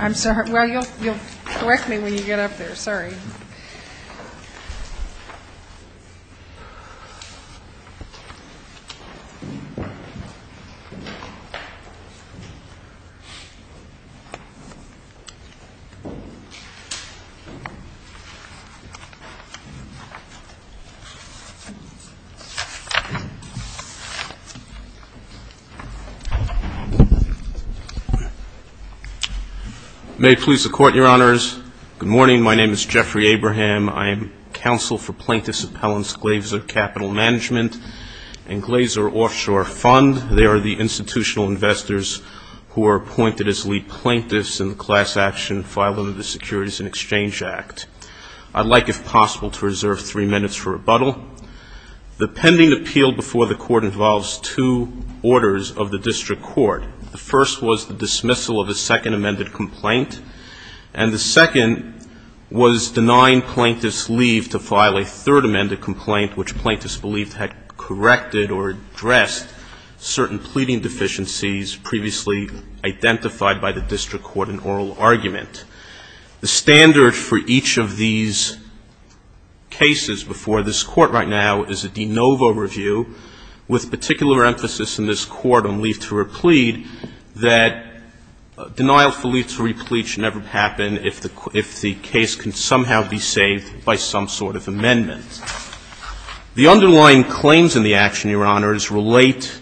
I'm sorry. Well, you'll correct me when you get up there. Sorry. May it please the Court, Your Honors. Good morning. My name is Jeffrey Abraham. I am counsel for Plaintiff's Appellant's Glazer Capital Management and Glazer Offshore Fund. They are the institutional investors who are appointed as lead plaintiffs in the class action filing of the Securities and Exchange Act. I'd like, if possible, to reserve three minutes for rebuttal. The pending appeal before the Court involves two orders of the district court. The first was the dismissal of a second amended complaint, and the second was denying plaintiffs leave to file a third amended complaint, which plaintiffs believed had corrected or addressed certain pleading deficiencies previously identified by the district court in oral argument. The standard for each of these cases before this Court right now is a de novo review, with particular emphasis in this Court on leave to replete, that denial for leave to replete should never happen if the case can somehow be saved by some sort of amendment. The underlying claims in the action, Your Honors, relate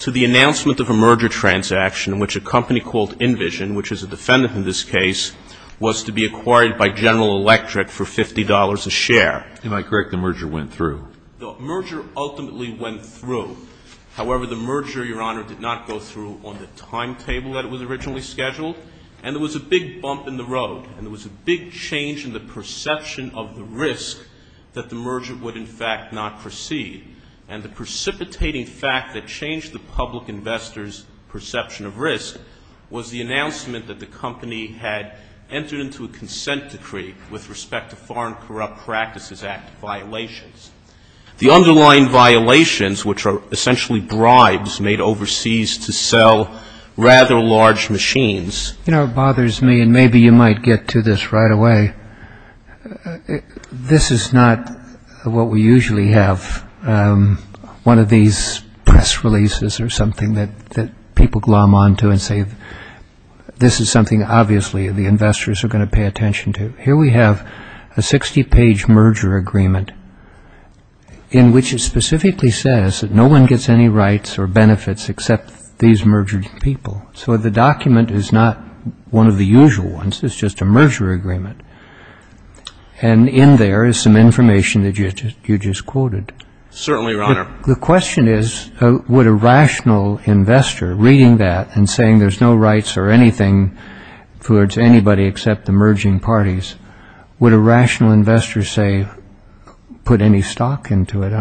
to the announcement of a merger transaction in which a company called InVision, which is a defendant in this case, was to be acquired by General Electric for $50 a share. Am I correct, the merger went through? The merger ultimately went through. However, the merger, Your Honor, did not go through on the timetable that it was originally scheduled, and there was a big bump in the road, and there was a big change in the perception of the risk that the merger would, in fact, not proceed. And the precipitating fact that changed the public investor's perception of risk was the announcement that the company had, in fact, entered into a consent decree with respect to Foreign Corrupt Practices Act violations. The underlying violations, which are essentially bribes made overseas to sell rather large machines, You know, it bothers me, and maybe you might get to this right away. This is not what we usually have. One of these press releases or something that people glom on to and say, this is something obviously the investors are going to pay attention to. Here we have a 60-page merger agreement in which it specifically says that no one gets any rights or benefits except these mergered people. So the document is not one of the usual ones. It's just a merger agreement. And in there is some information that you just quoted. Certainly, Your Honor. The question is, would a rational investor reading that and saying there's no rights or anything towards anybody except the merging parties, would a rational investor, say, put any stock into it?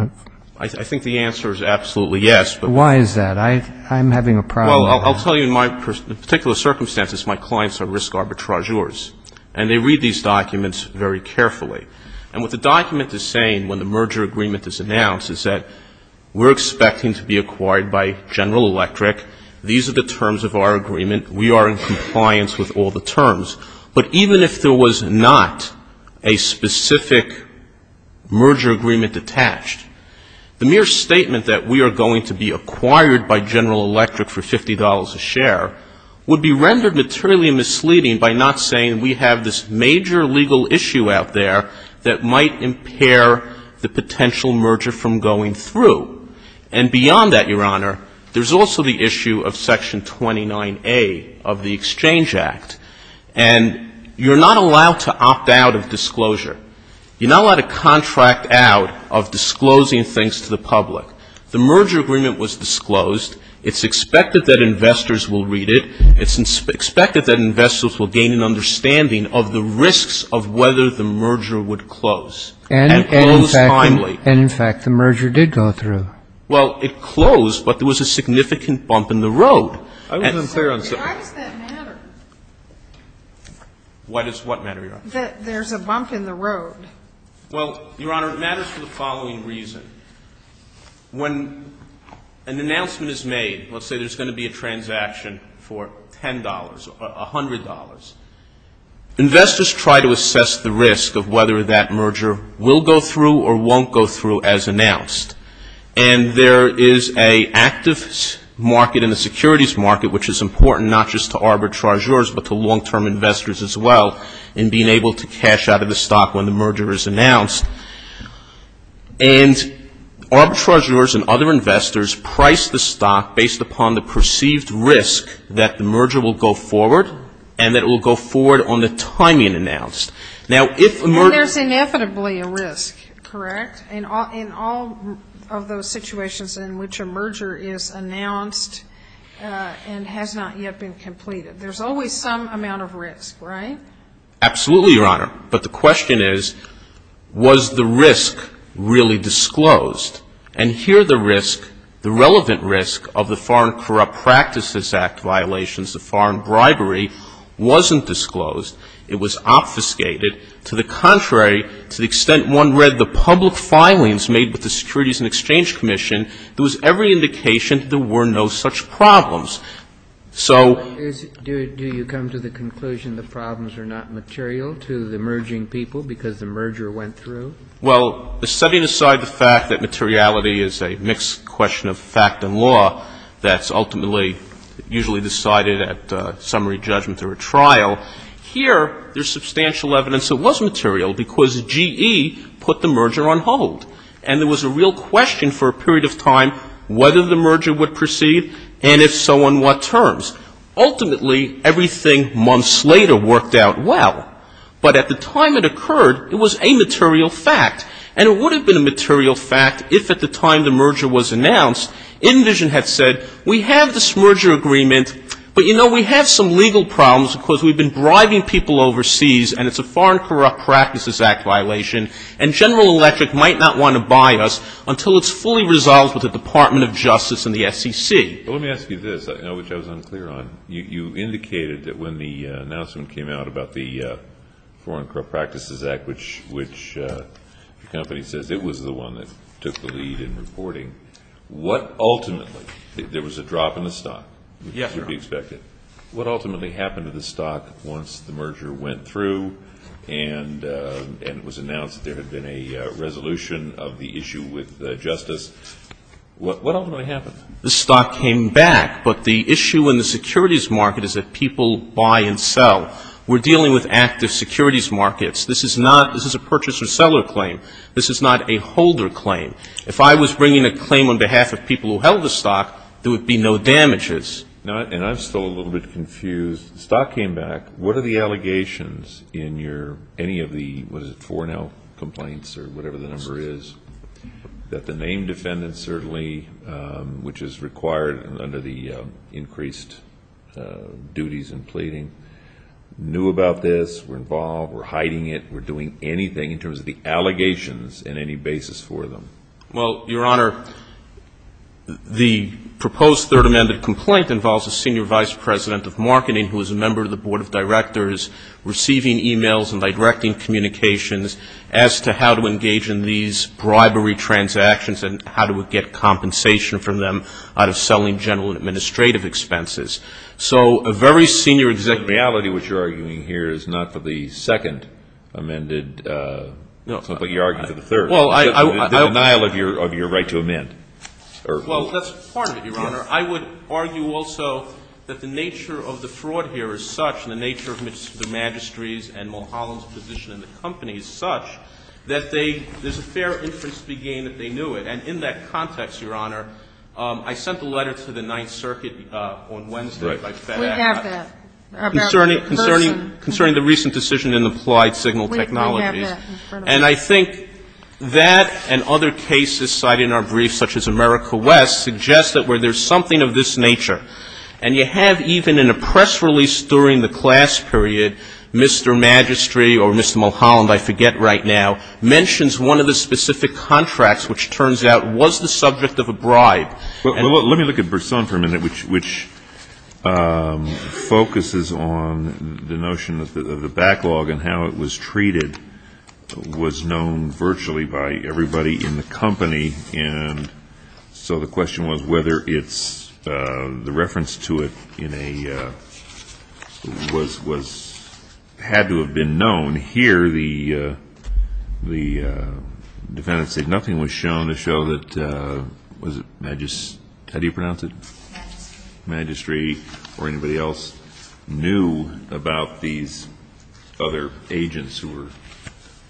I think the answer is absolutely yes. Why is that? I'm having a problem. Well, I'll tell you, in particular circumstances, my clients are risk arbitrageurs. And they read these documents very carefully. And what the document is saying when the merger agreement is announced is that we're expecting to be acquired by General Electric. These are the terms of our agreement. We are in compliance with all the terms. But even if there was not a specific merger agreement attached, the mere statement that we are going to be acquired by General Electric for $50 a share would be rendered materially misleading by not saying we have this major legal issue out there that might impair the potential merger from going through. And beyond that, Your Honor, there's also the issue of Section 29A of the Exchange Act. And you're not allowed to opt out of disclosure. You're not allowed to contract out of disclosing things to the public. The merger agreement was disclosed. It's expected that investors will read it. It's expected that investors will gain an understanding of the risks of whether the merger would close. And it closed timely. And, in fact, the merger did go through. Well, it closed, but there was a significant bump in the road. I wasn't clear on something. Why does that matter? Why does what matter, Your Honor? That there's a bump in the road. Well, Your Honor, it matters for the following reason. When an announcement is made, let's say there's going to be a transaction for $10 or $100. Investors try to assess the risk of whether that merger will go through or won't go through as announced. And there is an active market in the securities market, which is important not just to arbitrageurs, but to long-term investors as well in being able to cash out of the stock when the merger is announced. And arbitrageurs and other investors price the stock based upon the perceived risk that the merger will go forward and that it will go forward on the timing announced. Now, if a merger --. Well, there's inevitably a risk, correct, in all of those situations in which a merger is announced and has not yet been completed. There's always some amount of risk, right? Absolutely, Your Honor. But the question is, was the risk really disclosed? And here the risk, the relevant risk of the Foreign Corrupt Practices Act violations, the foreign bribery, wasn't disclosed. It was obfuscated. To the contrary, to the extent one read the public filings made with the Securities and Exchange Commission, there was every indication that there were no such problems. So -- Do you come to the conclusion the problems are not material to the merging people because the merger went through? Well, setting aside the fact that materiality is a mixed question of fact and law that's ultimately usually decided at summary judgment or a trial, here there's substantial evidence it was material because GE put the merger on hold. And there was a real question for a period of time whether the merger would proceed and if so, on what terms. Ultimately, everything months later worked out well. But at the time it occurred, it was a material fact. And it would have been a material fact if at the time the merger was announced, Envision had said, we have this merger agreement, but, you know, we have some legal problems because we've been bribing people overseas and it's a Foreign Corrupt Practices Act violation and General Electric might not want to buy us until it's fully resolved with the Department of Justice and the SEC. Let me ask you this, which I was unclear on. You indicated that when the announcement came out about the Foreign Corrupt Practices Act, which the company says it was the one that took the lead in reporting, what ultimately, there was a drop in the stock, as would be expected. What ultimately happened to the stock once the merger went through and it was announced there had been a resolution of the issue with Justice? What ultimately happened? The stock came back. But the issue in the securities market is that people buy and sell. We're dealing with active securities markets. This is not, this is a purchaser-seller claim. This is not a holder claim. If I was bringing a claim on behalf of people who held the stock, there would be no damages. And I'm still a little bit confused. The stock came back. What are the allegations in your, any of the, what is it, foreign health complaints or whatever the number is, that the named defendants certainly, which is required under the increased duties and pleading, knew about this, were involved, were hiding it, were doing anything in terms of the allegations in any basis for them? Well, Your Honor, the proposed Third Amendment complaint involves a Senior Vice President of Marketing who is a member of the Board of Directors, receiving e-mails and by directing communications as to how to engage in these bribery transactions and how to get compensation from them out of selling general administrative expenses. So a very senior executive. The reality, which you're arguing here, is not for the second amended complaint. You're arguing for the third. Well, I. The denial of your right to amend. Well, that's part of it, Your Honor. I would argue also that the nature of the fraud here is such, and the nature of the magistrate's and Mulholland's position in the company is such, that they, there's a fair interest to be gained that they knew it. And in that context, Your Honor, I sent a letter to the Ninth Circuit on Wednesday by FedEx. We have that. Concerning the recent decision in the Applied Signal Technologies. We have that in front of us. And I think that and other cases cited in our brief, such as America West, suggest that where there's something of this nature, and you have even in a press release during the class period, Mr. Magistrate or Mr. Mulholland, I forget right now, mentions one of the specific contracts, which turns out was the subject of a bribe. Well, let me look at Burson for a minute, which focuses on the notion of the backlog and how it was treated, was known virtually by everybody in the company. And so the question was whether it's, the reference to it in a, was, had to have been known here. The defendant said nothing was shown to show that, was it, Magistrate, how do you pronounce it? Magistrate. Magistrate or anybody else knew about these other agents who were,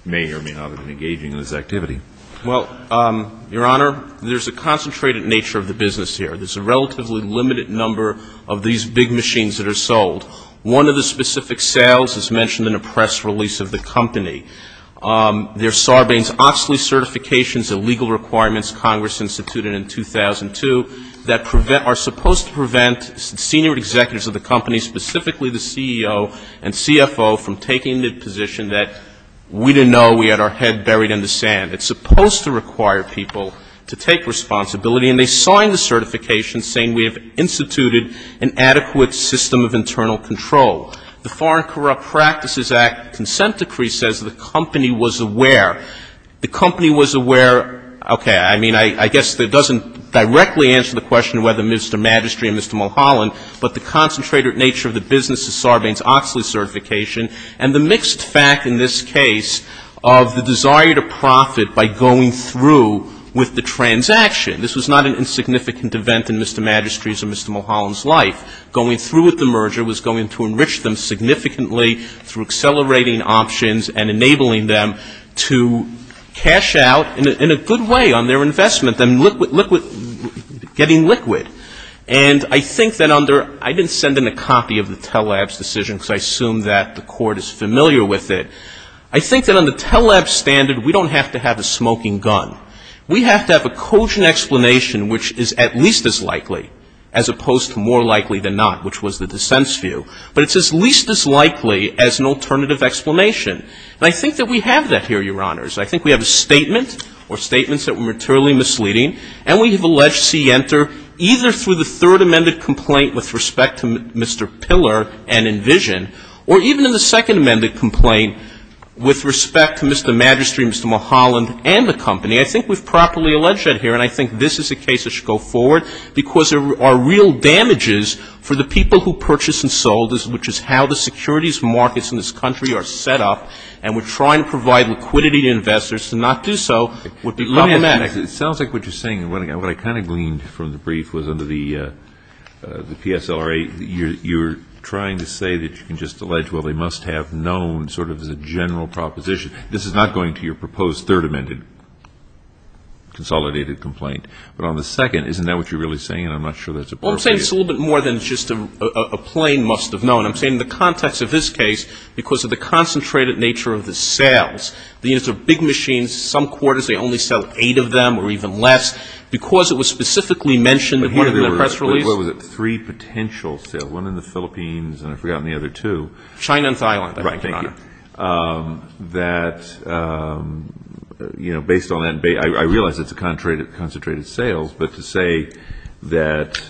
may or may not have been engaging in this activity. Well, Your Honor, there's a concentrated nature of the business here. There's a relatively limited number of these big machines that are sold. One of the specific sales is mentioned in a press release of the company. There's Sarbanes-Oxley certifications and legal requirements, Congress instituted in 2002, that prevent, are supposed to prevent senior executives of the company, specifically the CEO and CFO, from taking the position that we didn't know we had our head buried in the sand. It's supposed to require people to take responsibility. And they signed the certification saying we have instituted an adequate system of internal control. The Foreign Corrupt Practices Act consent decree says the company was aware. The company was aware, okay, I mean, I guess that doesn't directly answer the question of whether Mr. Magistrate or Mr. Mulholland, but the concentrated nature of the business is Sarbanes-Oxley certification and the mixed fact in this case of the desire to profit by going through with the transaction. This was not an insignificant event in Mr. Magistrate's or Mr. Mulholland's life. Going through with the merger was going to enrich them significantly through accelerating options and enabling them to cash out in a good way on their investment, getting liquid. And I think that under, I didn't send in a copy of the Tellab's decision because I assume that the Court is familiar with it. I think that on the Tellab's standard, we don't have to have a smoking gun. We have to have a cogent explanation which is at least as likely as opposed to more likely than not, which was the dissent's view. But it's as least as likely as an alternative explanation. And I think that we have that here, Your Honors. I think we have a statement or statements that were materially misleading, and we have alleged C. Enter, either through the third amended complaint with respect to Mr. Pillar and Envision, or even in the second amended complaint with respect to Mr. Magistrate, Mr. Mulholland and the company. I think we've properly alleged that here, and I think this is a case that should go forward because there are real damages for the people who purchased and sold, which is how the securities markets in this country are set up, and we're trying to provide liquidity to investors. To not do so would be problematic. It sounds like what you're saying, and what I kind of gleaned from the brief, was under the PSLRA, you're trying to say that you can just allege, well, they must have known sort of as a general proposition. This is not going to your proposed third amended consolidated complaint. But on the second, isn't that what you're really saying? I'm not sure that's appropriate. Well, I'm saying it's a little bit more than just a plain must have known. I'm saying the context of this case, because of the concentrated nature of the The units are big machines. Some quarters they only sell eight of them or even less. Because it was specifically mentioned in one of the press releases. What was it? Three potential sales. One in the Philippines, and I've forgotten the other two. China and Thailand. Right. Thank you. That, you know, based on that, I realize it's a concentrated sales, but to say that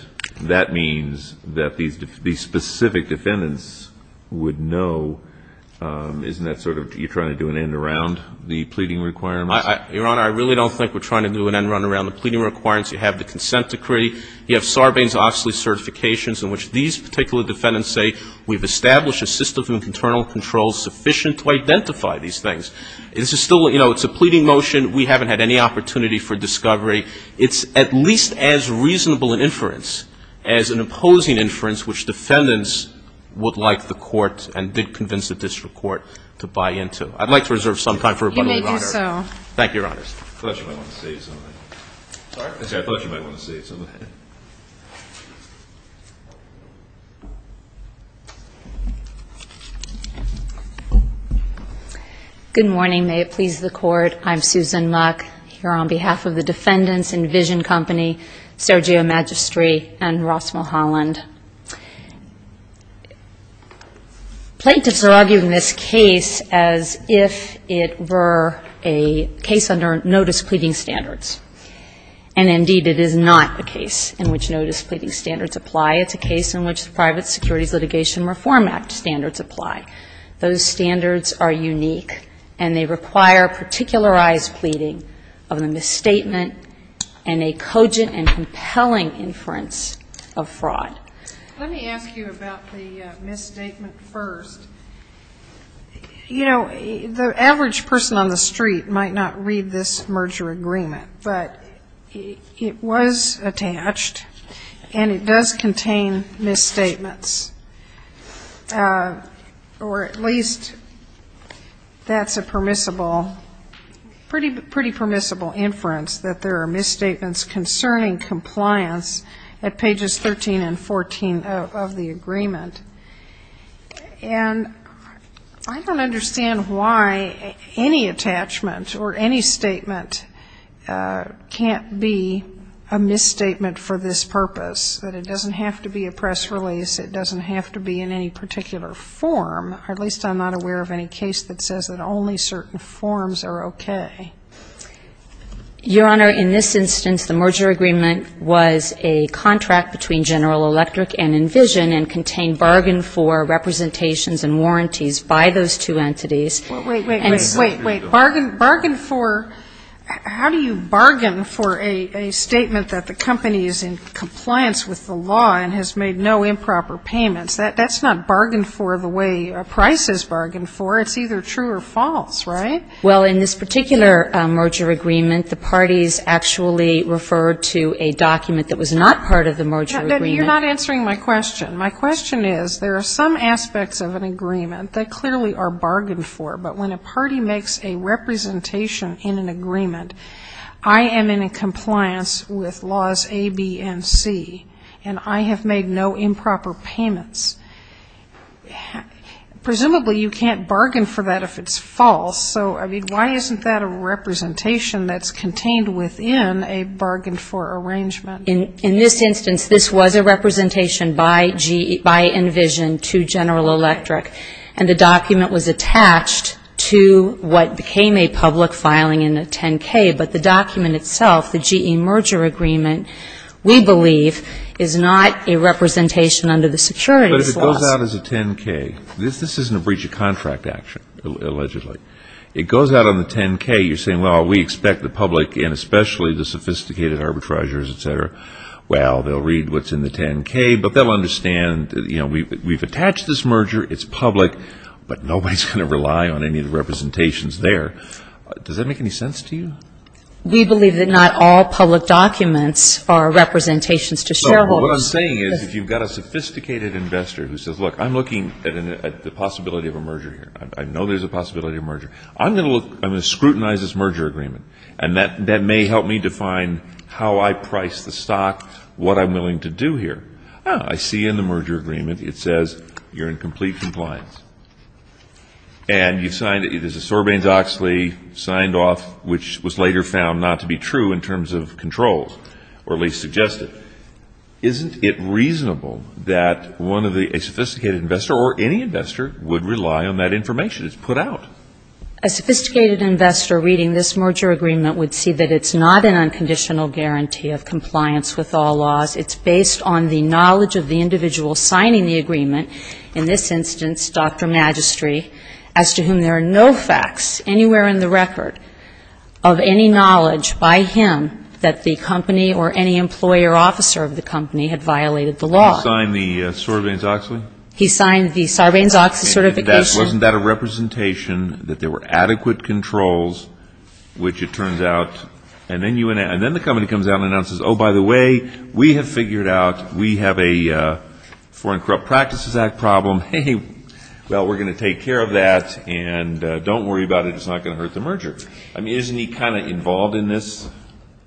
that means that these specific defendants would know, isn't that sort of You're trying to do an end around the pleading requirements? Your Honor, I really don't think we're trying to do an end around the pleading requirements. You have the consent decree. You have Sarbanes-Oxley certifications in which these particular defendants say we've established a system of internal control sufficient to identify these things. This is still, you know, it's a pleading motion. We haven't had any opportunity for discovery. It's at least as reasonable an inference as an opposing inference, which defendants the court and did convince the district court to buy into. I'd like to reserve some time for rebuttal, Your Honor. You may do so. Thank you, Your Honor. I thought you might want to say something. Sorry? I thought you might want to say something. Good morning. May it please the Court. I'm Susan Muck, here on behalf of the Defendants and Vision Company, Sergio Magistri, and Ross Mulholland. Plaintiffs are arguing this case as if it were a case under notice pleading standards. And, indeed, it is not a case in which notice pleading standards apply. It's a case in which the Private Securities Litigation Reform Act standards apply. Those standards are unique, and they require particularized pleading of a statement and a cogent and compelling inference of fraud. Let me ask you about the misstatement first. You know, the average person on the street might not read this merger agreement, but it was attached, and it does contain misstatements, or at least that's a pretty permissible inference, that there are misstatements concerning compliance at pages 13 and 14 of the agreement. And I don't understand why any attachment or any statement can't be a misstatement for this purpose, that it doesn't have to be a press release, it doesn't have to be in any particular form. Or at least I'm not aware of any case that says that only certain forms are okay. Your Honor, in this instance, the merger agreement was a contract between General Electric and Envision and contained bargain for representations and warranties by those two entities. Wait, wait, wait. Bargain for, how do you bargain for a statement that the company is in compliance with the law and has made no improper payments? That's not bargain for the way a price is bargained for. It's either true or false, right? Well, in this particular merger agreement, the parties actually referred to a document that was not part of the merger agreement. You're not answering my question. My question is, there are some aspects of an agreement that clearly are bargained for, but when a party makes a representation in an agreement, I am in compliance with laws A, B, and C, and I have made no improper payments. Presumably you can't bargain for that if it's false. So, I mean, why isn't that a representation that's contained within a bargain for arrangement? In this instance, this was a representation by Envision to General Electric, and the document was attached to what became a public filing in the 10-K, but the GE merger agreement, we believe, is not a representation under the securities laws. But if it goes out as a 10-K, this isn't a breach of contract action, allegedly. It goes out on the 10-K, you're saying, well, we expect the public, and especially the sophisticated arbitragers, et cetera, well, they'll read what's in the 10-K, but they'll understand, you know, we've attached this merger, it's public, but nobody's going to rely on any of the representations there. Does that make any sense to you? We believe that not all public documents are representations to shareholders. Well, what I'm saying is if you've got a sophisticated investor who says, look, I'm looking at the possibility of a merger here. I know there's a possibility of a merger. I'm going to scrutinize this merger agreement, and that may help me define how I price the stock, what I'm willing to do here. Ah, I see in the merger agreement it says you're in complete compliance. And you've signed it. There's a Sorbanes-Oxley signed off, which was later found not to be true in terms of controls, or at least suggested. Isn't it reasonable that one of the ñ a sophisticated investor or any investor would rely on that information? It's put out. A sophisticated investor reading this merger agreement would see that it's not an unconditional guarantee of compliance with all laws. It's based on the knowledge of the individual signing the agreement. In this instance, Dr. Magistri, as to whom there are no facts anywhere in the record of any knowledge by him that the company or any employee or officer of the company had violated the law. He signed the Sorbanes-Oxley? He signed the Sorbanes-Oxley certification. Wasn't that a representation that there were adequate controls, which it turns out ñ and then the company comes out and announces, oh, by the way, we have figured out we have a Foreign Corrupt Practices Act problem. Hey, well, we're going to take care of that, and don't worry about it. It's not going to hurt the merger. I mean, isn't he kind of involved in this?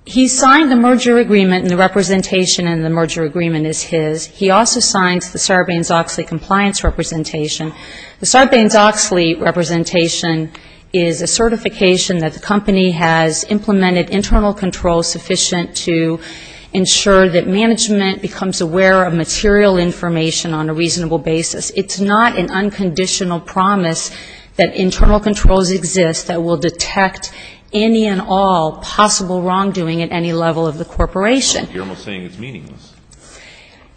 He signed the merger agreement, and the representation in the merger agreement is his. He also signs the Sorbanes-Oxley compliance representation. The Sorbanes-Oxley representation is a certification that the company has implemented internal controls sufficient to ensure that management becomes aware of material information on a reasonable basis. It's not an unconditional promise that internal controls exist that will detect any and all possible wrongdoing at any level of the corporation. You're almost saying it's meaningless.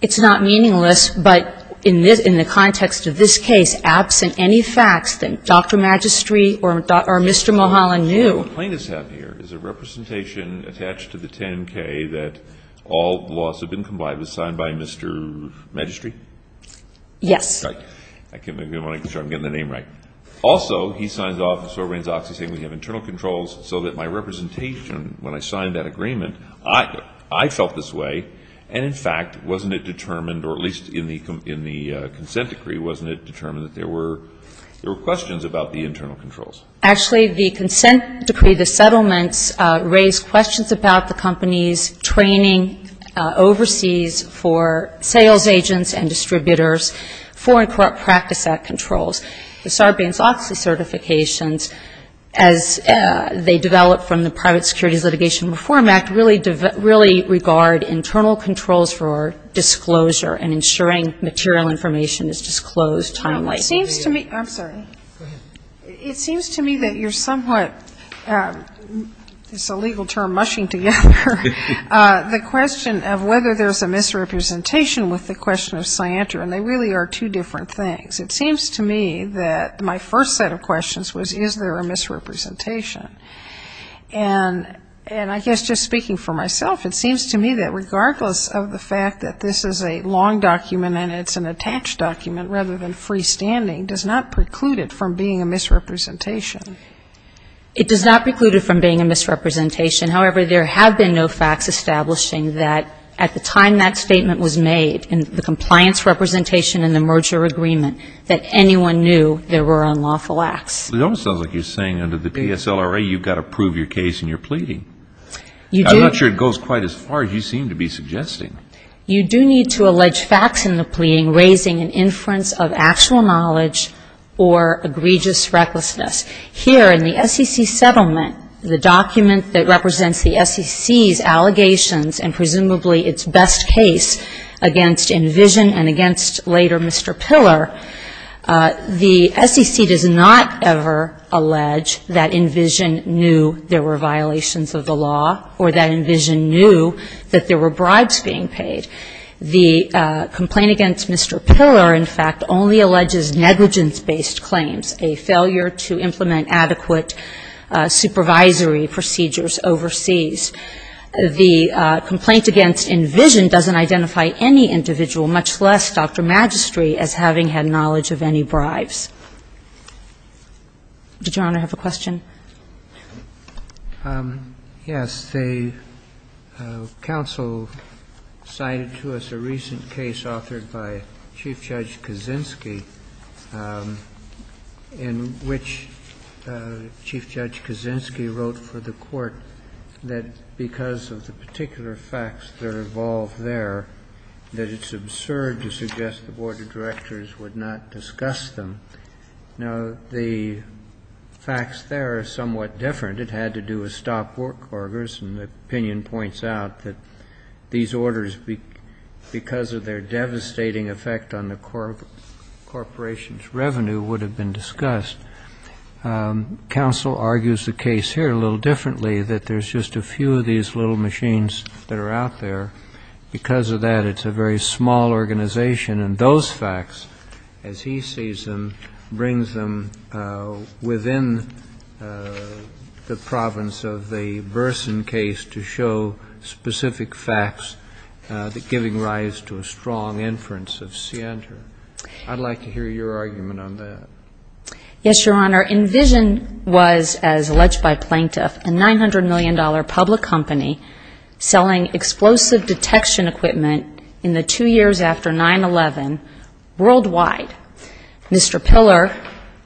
It's not meaningless, but in the context of this case, absent any facts that Dr. Magistri or Mr. Mulholland knew. So what plaintiffs have here is a representation attached to the 10-K that all laws have been combined. It was signed by Mr. Magistri? Yes. Sorry. I can't make sure I'm getting the name right. Also, he signs off the Sorbanes-Oxley saying we have internal controls so that my representation, when I signed that agreement, I felt this way, and, in fact, wasn't it determined, or at least in the consent decree, wasn't it determined that there were questions about the internal controls? Actually, the consent decree, the settlements raised questions about the company's training overseas for sales agents and distributors, Foreign Corrupt Practice Act controls. The Sorbanes-Oxley certifications, as they develop from the Private Securities Litigation Reform Act, really regard internal controls for disclosure and ensuring material information is disclosed timely. It seems to me. I'm sorry. Go ahead. It seems to me that you're somewhat, it's a legal term, mushing together the question of whether there's a misrepresentation with the question of scienter, and they really are two different things. It seems to me that my first set of questions was is there a misrepresentation? And I guess just speaking for myself, it seems to me that regardless of the fact that this is a long document and it's an attached document rather than freestanding does not preclude it from being a misrepresentation. It does not preclude it from being a misrepresentation. However, there have been no facts establishing that at the time that statement was made in the compliance representation in the merger agreement that anyone knew there were unlawful acts. It almost sounds like you're saying under the PSLRA you've got to prove your case in your pleading. You do. I'm not sure it goes quite as far as you seem to be suggesting. You do need to allege facts in the pleading raising an inference of actual knowledge or egregious recklessness. Here in the SEC settlement, the document that represents the SEC's allegations and presumably its best case against Envision and against later Mr. Piller, the SEC does not ever allege that Envision knew there were violations of the law or that Envision knew that there were bribes being paid. The complaint against Mr. Piller, in fact, only alleges negligence-based claims, a failure to implement adequate supervisory procedures overseas. The complaint against Envision doesn't identify any individual, much less Dr. Magistri, as having had knowledge of any bribes. Did Your Honor have a question? Yes. The counsel cited to us a recent case authored by Chief Judge Kaczynski in which Chief Judge Kaczynski wrote for the Court that because of the particular facts that are involved there, that it's absurd to suggest the board of directors would not discuss them. Now, the facts there are somewhat different. It had to do with stop workers, and the opinion points out that these orders, because of their devastating effect on the corporation's revenue, would have been discussed. Counsel argues the case here a little differently, that there's just a few of these little machines that are out there. Because of that, it's a very small organization. And those facts, as he sees them, brings them within the province of the Burson case to show specific facts giving rise to a strong inference of scienter. I'd like to hear your argument on that. Yes, Your Honor. Envision was, as alleged by Plaintiff, a $900 million public company selling explosive detection equipment in the two years after 9-11 worldwide. Mr. Piller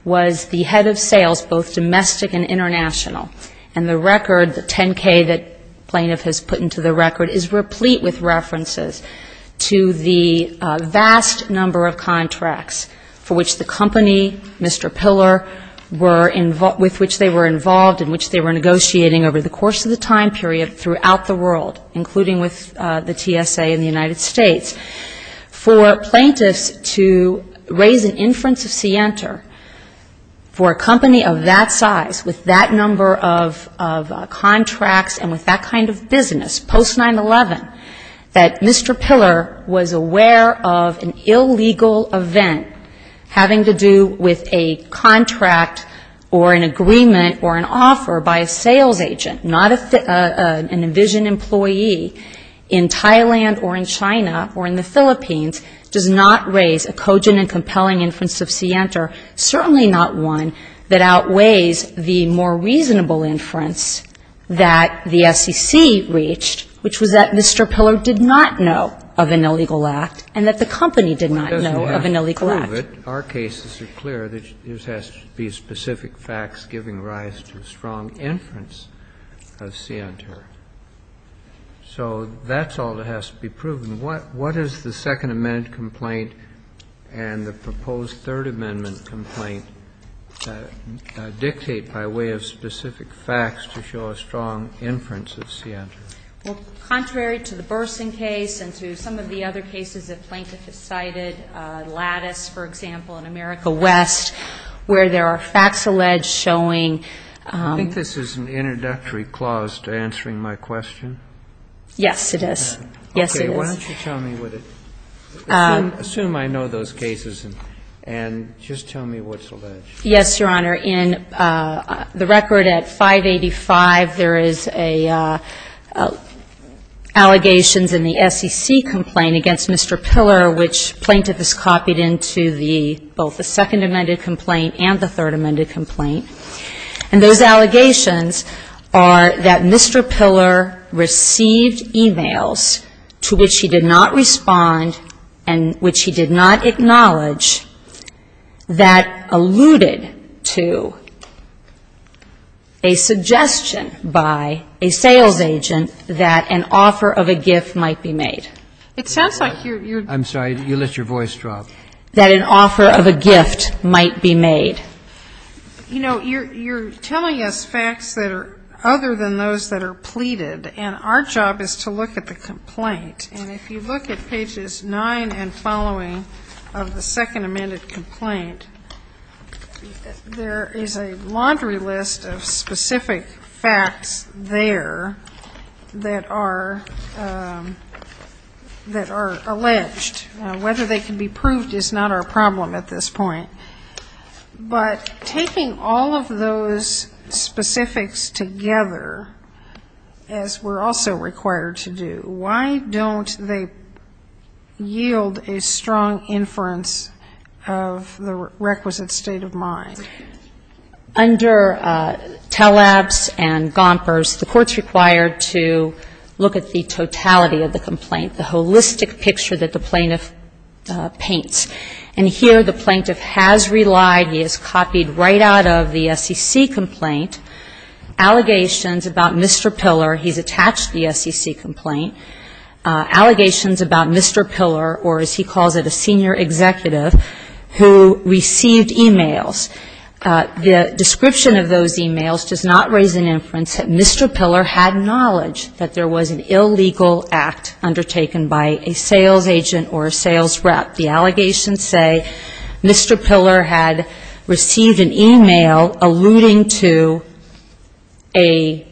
was the head of sales, both domestic and international. And the record, the 10K that Plaintiff has put into the record, is replete with references to the vast number of contracts for which the company, Mr. Piller, with which they were involved, in which they were negotiating over the course of the time period throughout the world, including with the TSA in the United States, for Plaintiffs to raise an inference of scienter for a company of that size, with that number of contracts and with that kind of business, post-9-11, that Mr. Piller was aware of an illegal event having to do with a contract or an agreement or an offer by a sales agent, not an Envision employee in Thailand or in China or in the Philippines, does not raise a cogent and compelling inference of scienter, certainly not one that outweighs the more reasonable inference that the SEC reached, which was that Mr. Piller did not know of an illegal act and that the company did not know of an illegal act. Kennedy, to prove it, our cases are clear that there has to be specific facts giving rise to a strong inference of scienter. So that's all that has to be proven. What does the Second Amendment complaint and the proposed Third Amendment complaint dictate by way of specific facts to show a strong inference of scienter? Well, contrary to the Burson case and to some of the other cases that Plaintiff has cited, Lattice, for example, in America West, where there are facts alleged showing ---- I think this is an introductory clause to answering my question. Yes, it is. Yes, it is. Okay. Why don't you tell me what it ---- assume I know those cases and just tell me what's alleged. Yes, Your Honor. Yes, Your Honor, in the record at 585, there is allegations in the SEC complaint against Mr. Piller, which Plaintiff has copied into the ---- both the Second Amendment complaint and the Third Amendment complaint. And those allegations are that Mr. Piller received e-mails to which he did not agree to a suggestion by a sales agent that an offer of a gift might be made. It sounds like you're ---- I'm sorry. You let your voice drop. That an offer of a gift might be made. You know, you're telling us facts that are other than those that are pleaded, and our job is to look at the complaint. And if you look at pages 9 and following of the Second Amendment complaint, there is a laundry list of specific facts there that are alleged. Whether they can be proved is not our problem at this point. But taking all of those specifics together, as we're also required to do, why don't they yield a strong inference of the requisite state of mind? Under Taleb's and Gomper's, the Court's required to look at the totality of the complaint, the holistic picture that the Plaintiff paints. And here the Plaintiff has relied, he has copied right out of the SEC complaint, allegations about Mr. Piller, he's attached the SEC complaint, allegations about Mr. Piller, or as he calls it, a senior executive who received e-mails. The description of those e-mails does not raise an inference that Mr. Piller had knowledge that there was an illegal act undertaken by a sales agent or a sales rep. The allegations say Mr. Piller had received an e-mail alluding to a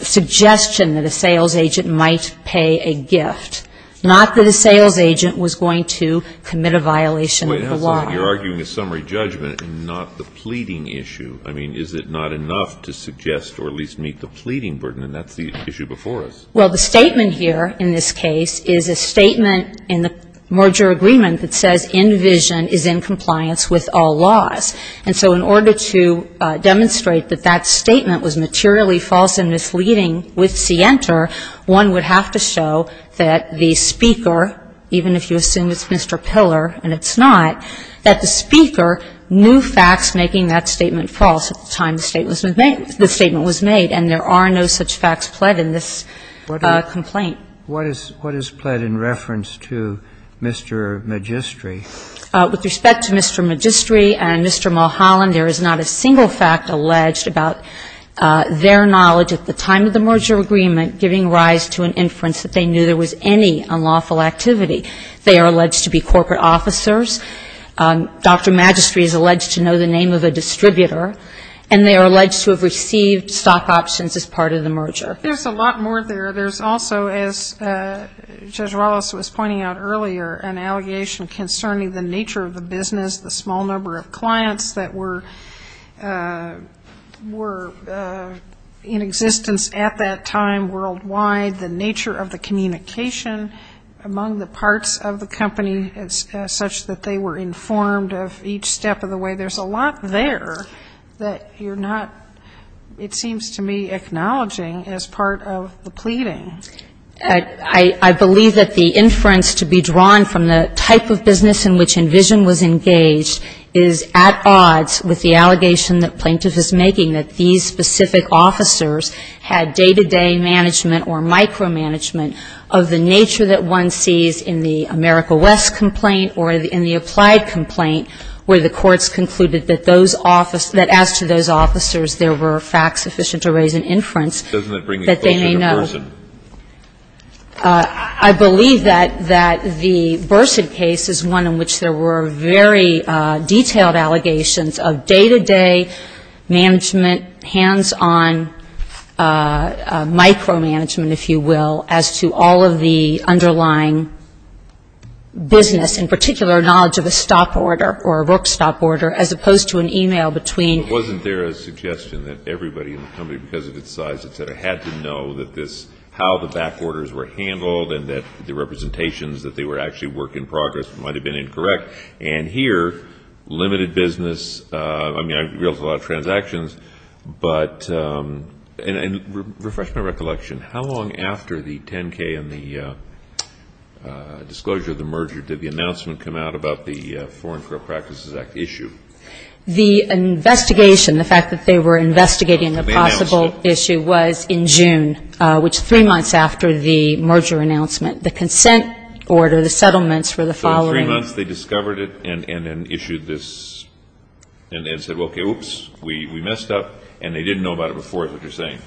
suggestion that a sales agent might pay a gift, not that a sales agent was going to commit a violation of the law. You're arguing a summary judgment and not the pleading issue. I mean, is it not enough to suggest or at least meet the pleading burden? And that's the issue before us. Well, the statement here in this case is a statement in the merger agreement that says in vision is in compliance with all laws. And so in order to demonstrate that that statement was materially false and misleading with scienter, one would have to show that the speaker, even if you assume it's Mr. Piller and it's not, that the speaker knew facts making that statement false at the time that the statement was made. And there are no such facts pled in this complaint. What is pled in reference to Mr. Magistri? With respect to Mr. Magistri and Mr. Mulholland, there is not a single fact alleged about their knowledge at the time of the merger agreement giving rise to an inference that they knew there was any unlawful activity. They are alleged to be corporate officers. Dr. Magistri is alleged to know the name of a distributor. And they are alleged to have received stock options as part of the merger. There's a lot more there. There's also, as Judge Wallace was pointing out earlier, an allegation concerning the nature of the business, the small number of clients that were in existence at that time worldwide, the nature of the communication among the parts of the company such that they were informed of each step of the way. There's a lot there that you're not, it seems to me, acknowledging as part of the pleading. I believe that the inference to be drawn from the type of business in which Envision was engaged is at odds with the allegation that Plaintiff is making, that these specific officers had day-to-day management or micromanagement of the nature that one sees in the America West complaint or in the applied complaint where the courts concluded that those officers, that as to those officers there were facts sufficient to raise an inference that they may know. Doesn't that bring a question to Burson? I believe that the Burson case is one in which there were very detailed allegations of day-to-day management, hands-on micromanagement, if you will, as to all of the underlying business, in particular knowledge of a stop order or a work stop order, as opposed to an e-mail between. Wasn't there a suggestion that everybody in the company because of its size, et cetera, had to know that this, how the back orders were handled and that the representations that they were actually work in progress might have been incorrect? And here, limited business, I mean, there was a lot of transactions, but and refresh my recollection, how long after the 10K and the disclosure of the merger did the announcement come out about the Foreign Corrupt Practices Act issue? The investigation, the fact that they were investigating the possible issue, was in June, which is three months after the merger announcement. The consent order, the settlements were the following. Three months, they discovered it and then issued this and said, okay, oops, we messed up, and they didn't know about it before is what you're saying.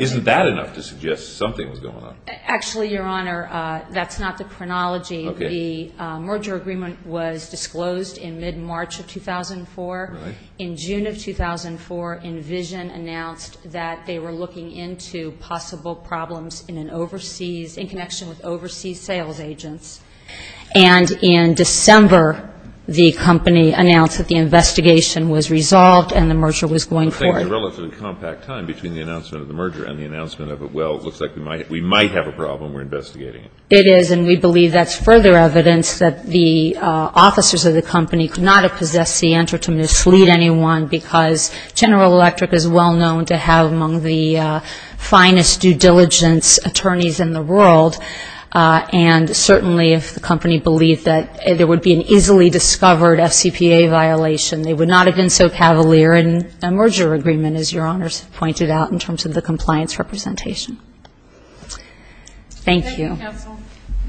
Isn't that enough to suggest something was going on? Actually, Your Honor, that's not the chronology. The merger agreement was disclosed in mid-March of 2004. In June of 2004, Envision announced that they were looking into possible problems in an overseas, in connection with overseas sales agents. And in December, the company announced that the investigation was resolved and the merger was going forward. I think the relative compact time between the announcement of the merger and the announcement of it, well, it looks like we might have a problem. We're investigating it. It is, and we believe that's further evidence that the officers of the company could not have possessed the enter to mislead anyone because General Electric is well known to have among the finest due diligence attorneys in the world, and certainly if the company believed that there would be an easily discovered FCPA violation, they would not have been so cavalier in a merger agreement, as Your Honors pointed out, in terms of the compliance representation. Thank you. Thank you, counsel.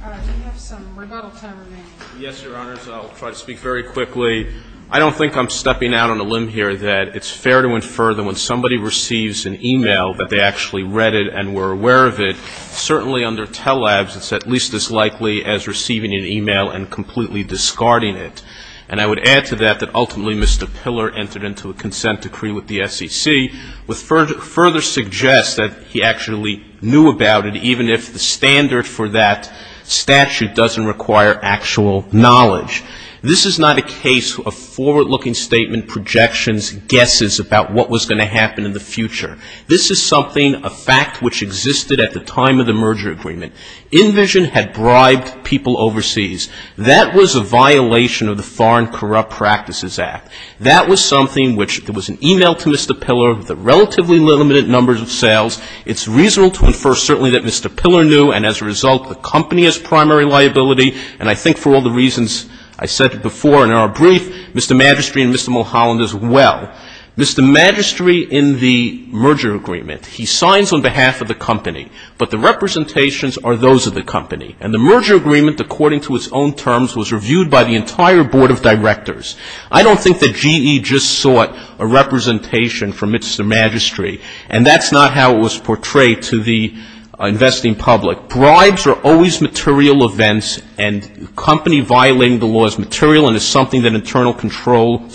We have some rebuttal time remaining. Yes, Your Honors. I'll try to speak very quickly. I don't think I'm stepping out on a limb here that it's fair to infer that when somebody receives an e-mail that they actually read it and were aware of it, certainly under TELLABS it's at least as likely as receiving an e-mail and completely discarding it. And I would add to that that ultimately Mr. Piller entered into a consent decree with the SEC, which further suggests that he actually knew about it, even if the standard for that statute doesn't require actual knowledge. This is not a case of forward-looking statement projections, guesses about what was going to happen in the future. This is something, a fact which existed at the time of the merger agreement. InVision had bribed people overseas. That was a violation of the Foreign Corrupt Practices Act. That was something which there was an e-mail to Mr. Piller with a relatively limited number of sales. It's reasonable to infer certainly that Mr. Piller knew, and as a result the company has primary liability, and I think for all the reasons I said before in our brief, Mr. Magistri and Mr. Mulholland as well. Mr. Magistri in the merger agreement, he signs on behalf of the company, but the representations are those of the company. And the merger agreement, according to its own terms, was reviewed by the entire board of directors. I don't think that GE just sought a representation from Mr. Magistri, and that's not how it was portrayed to the investing public. Bribes are always material events, and company violating the law is material and is something that internal control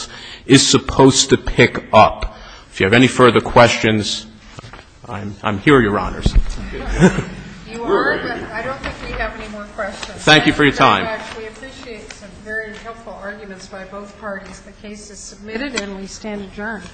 is supposed to pick up. If you have any further questions, I'm here, Your Honors. You are? I don't think we have any more questions. Thank you for your time. I actually appreciate some very helpful arguments by both parties. The case is submitted and we stand adjourned.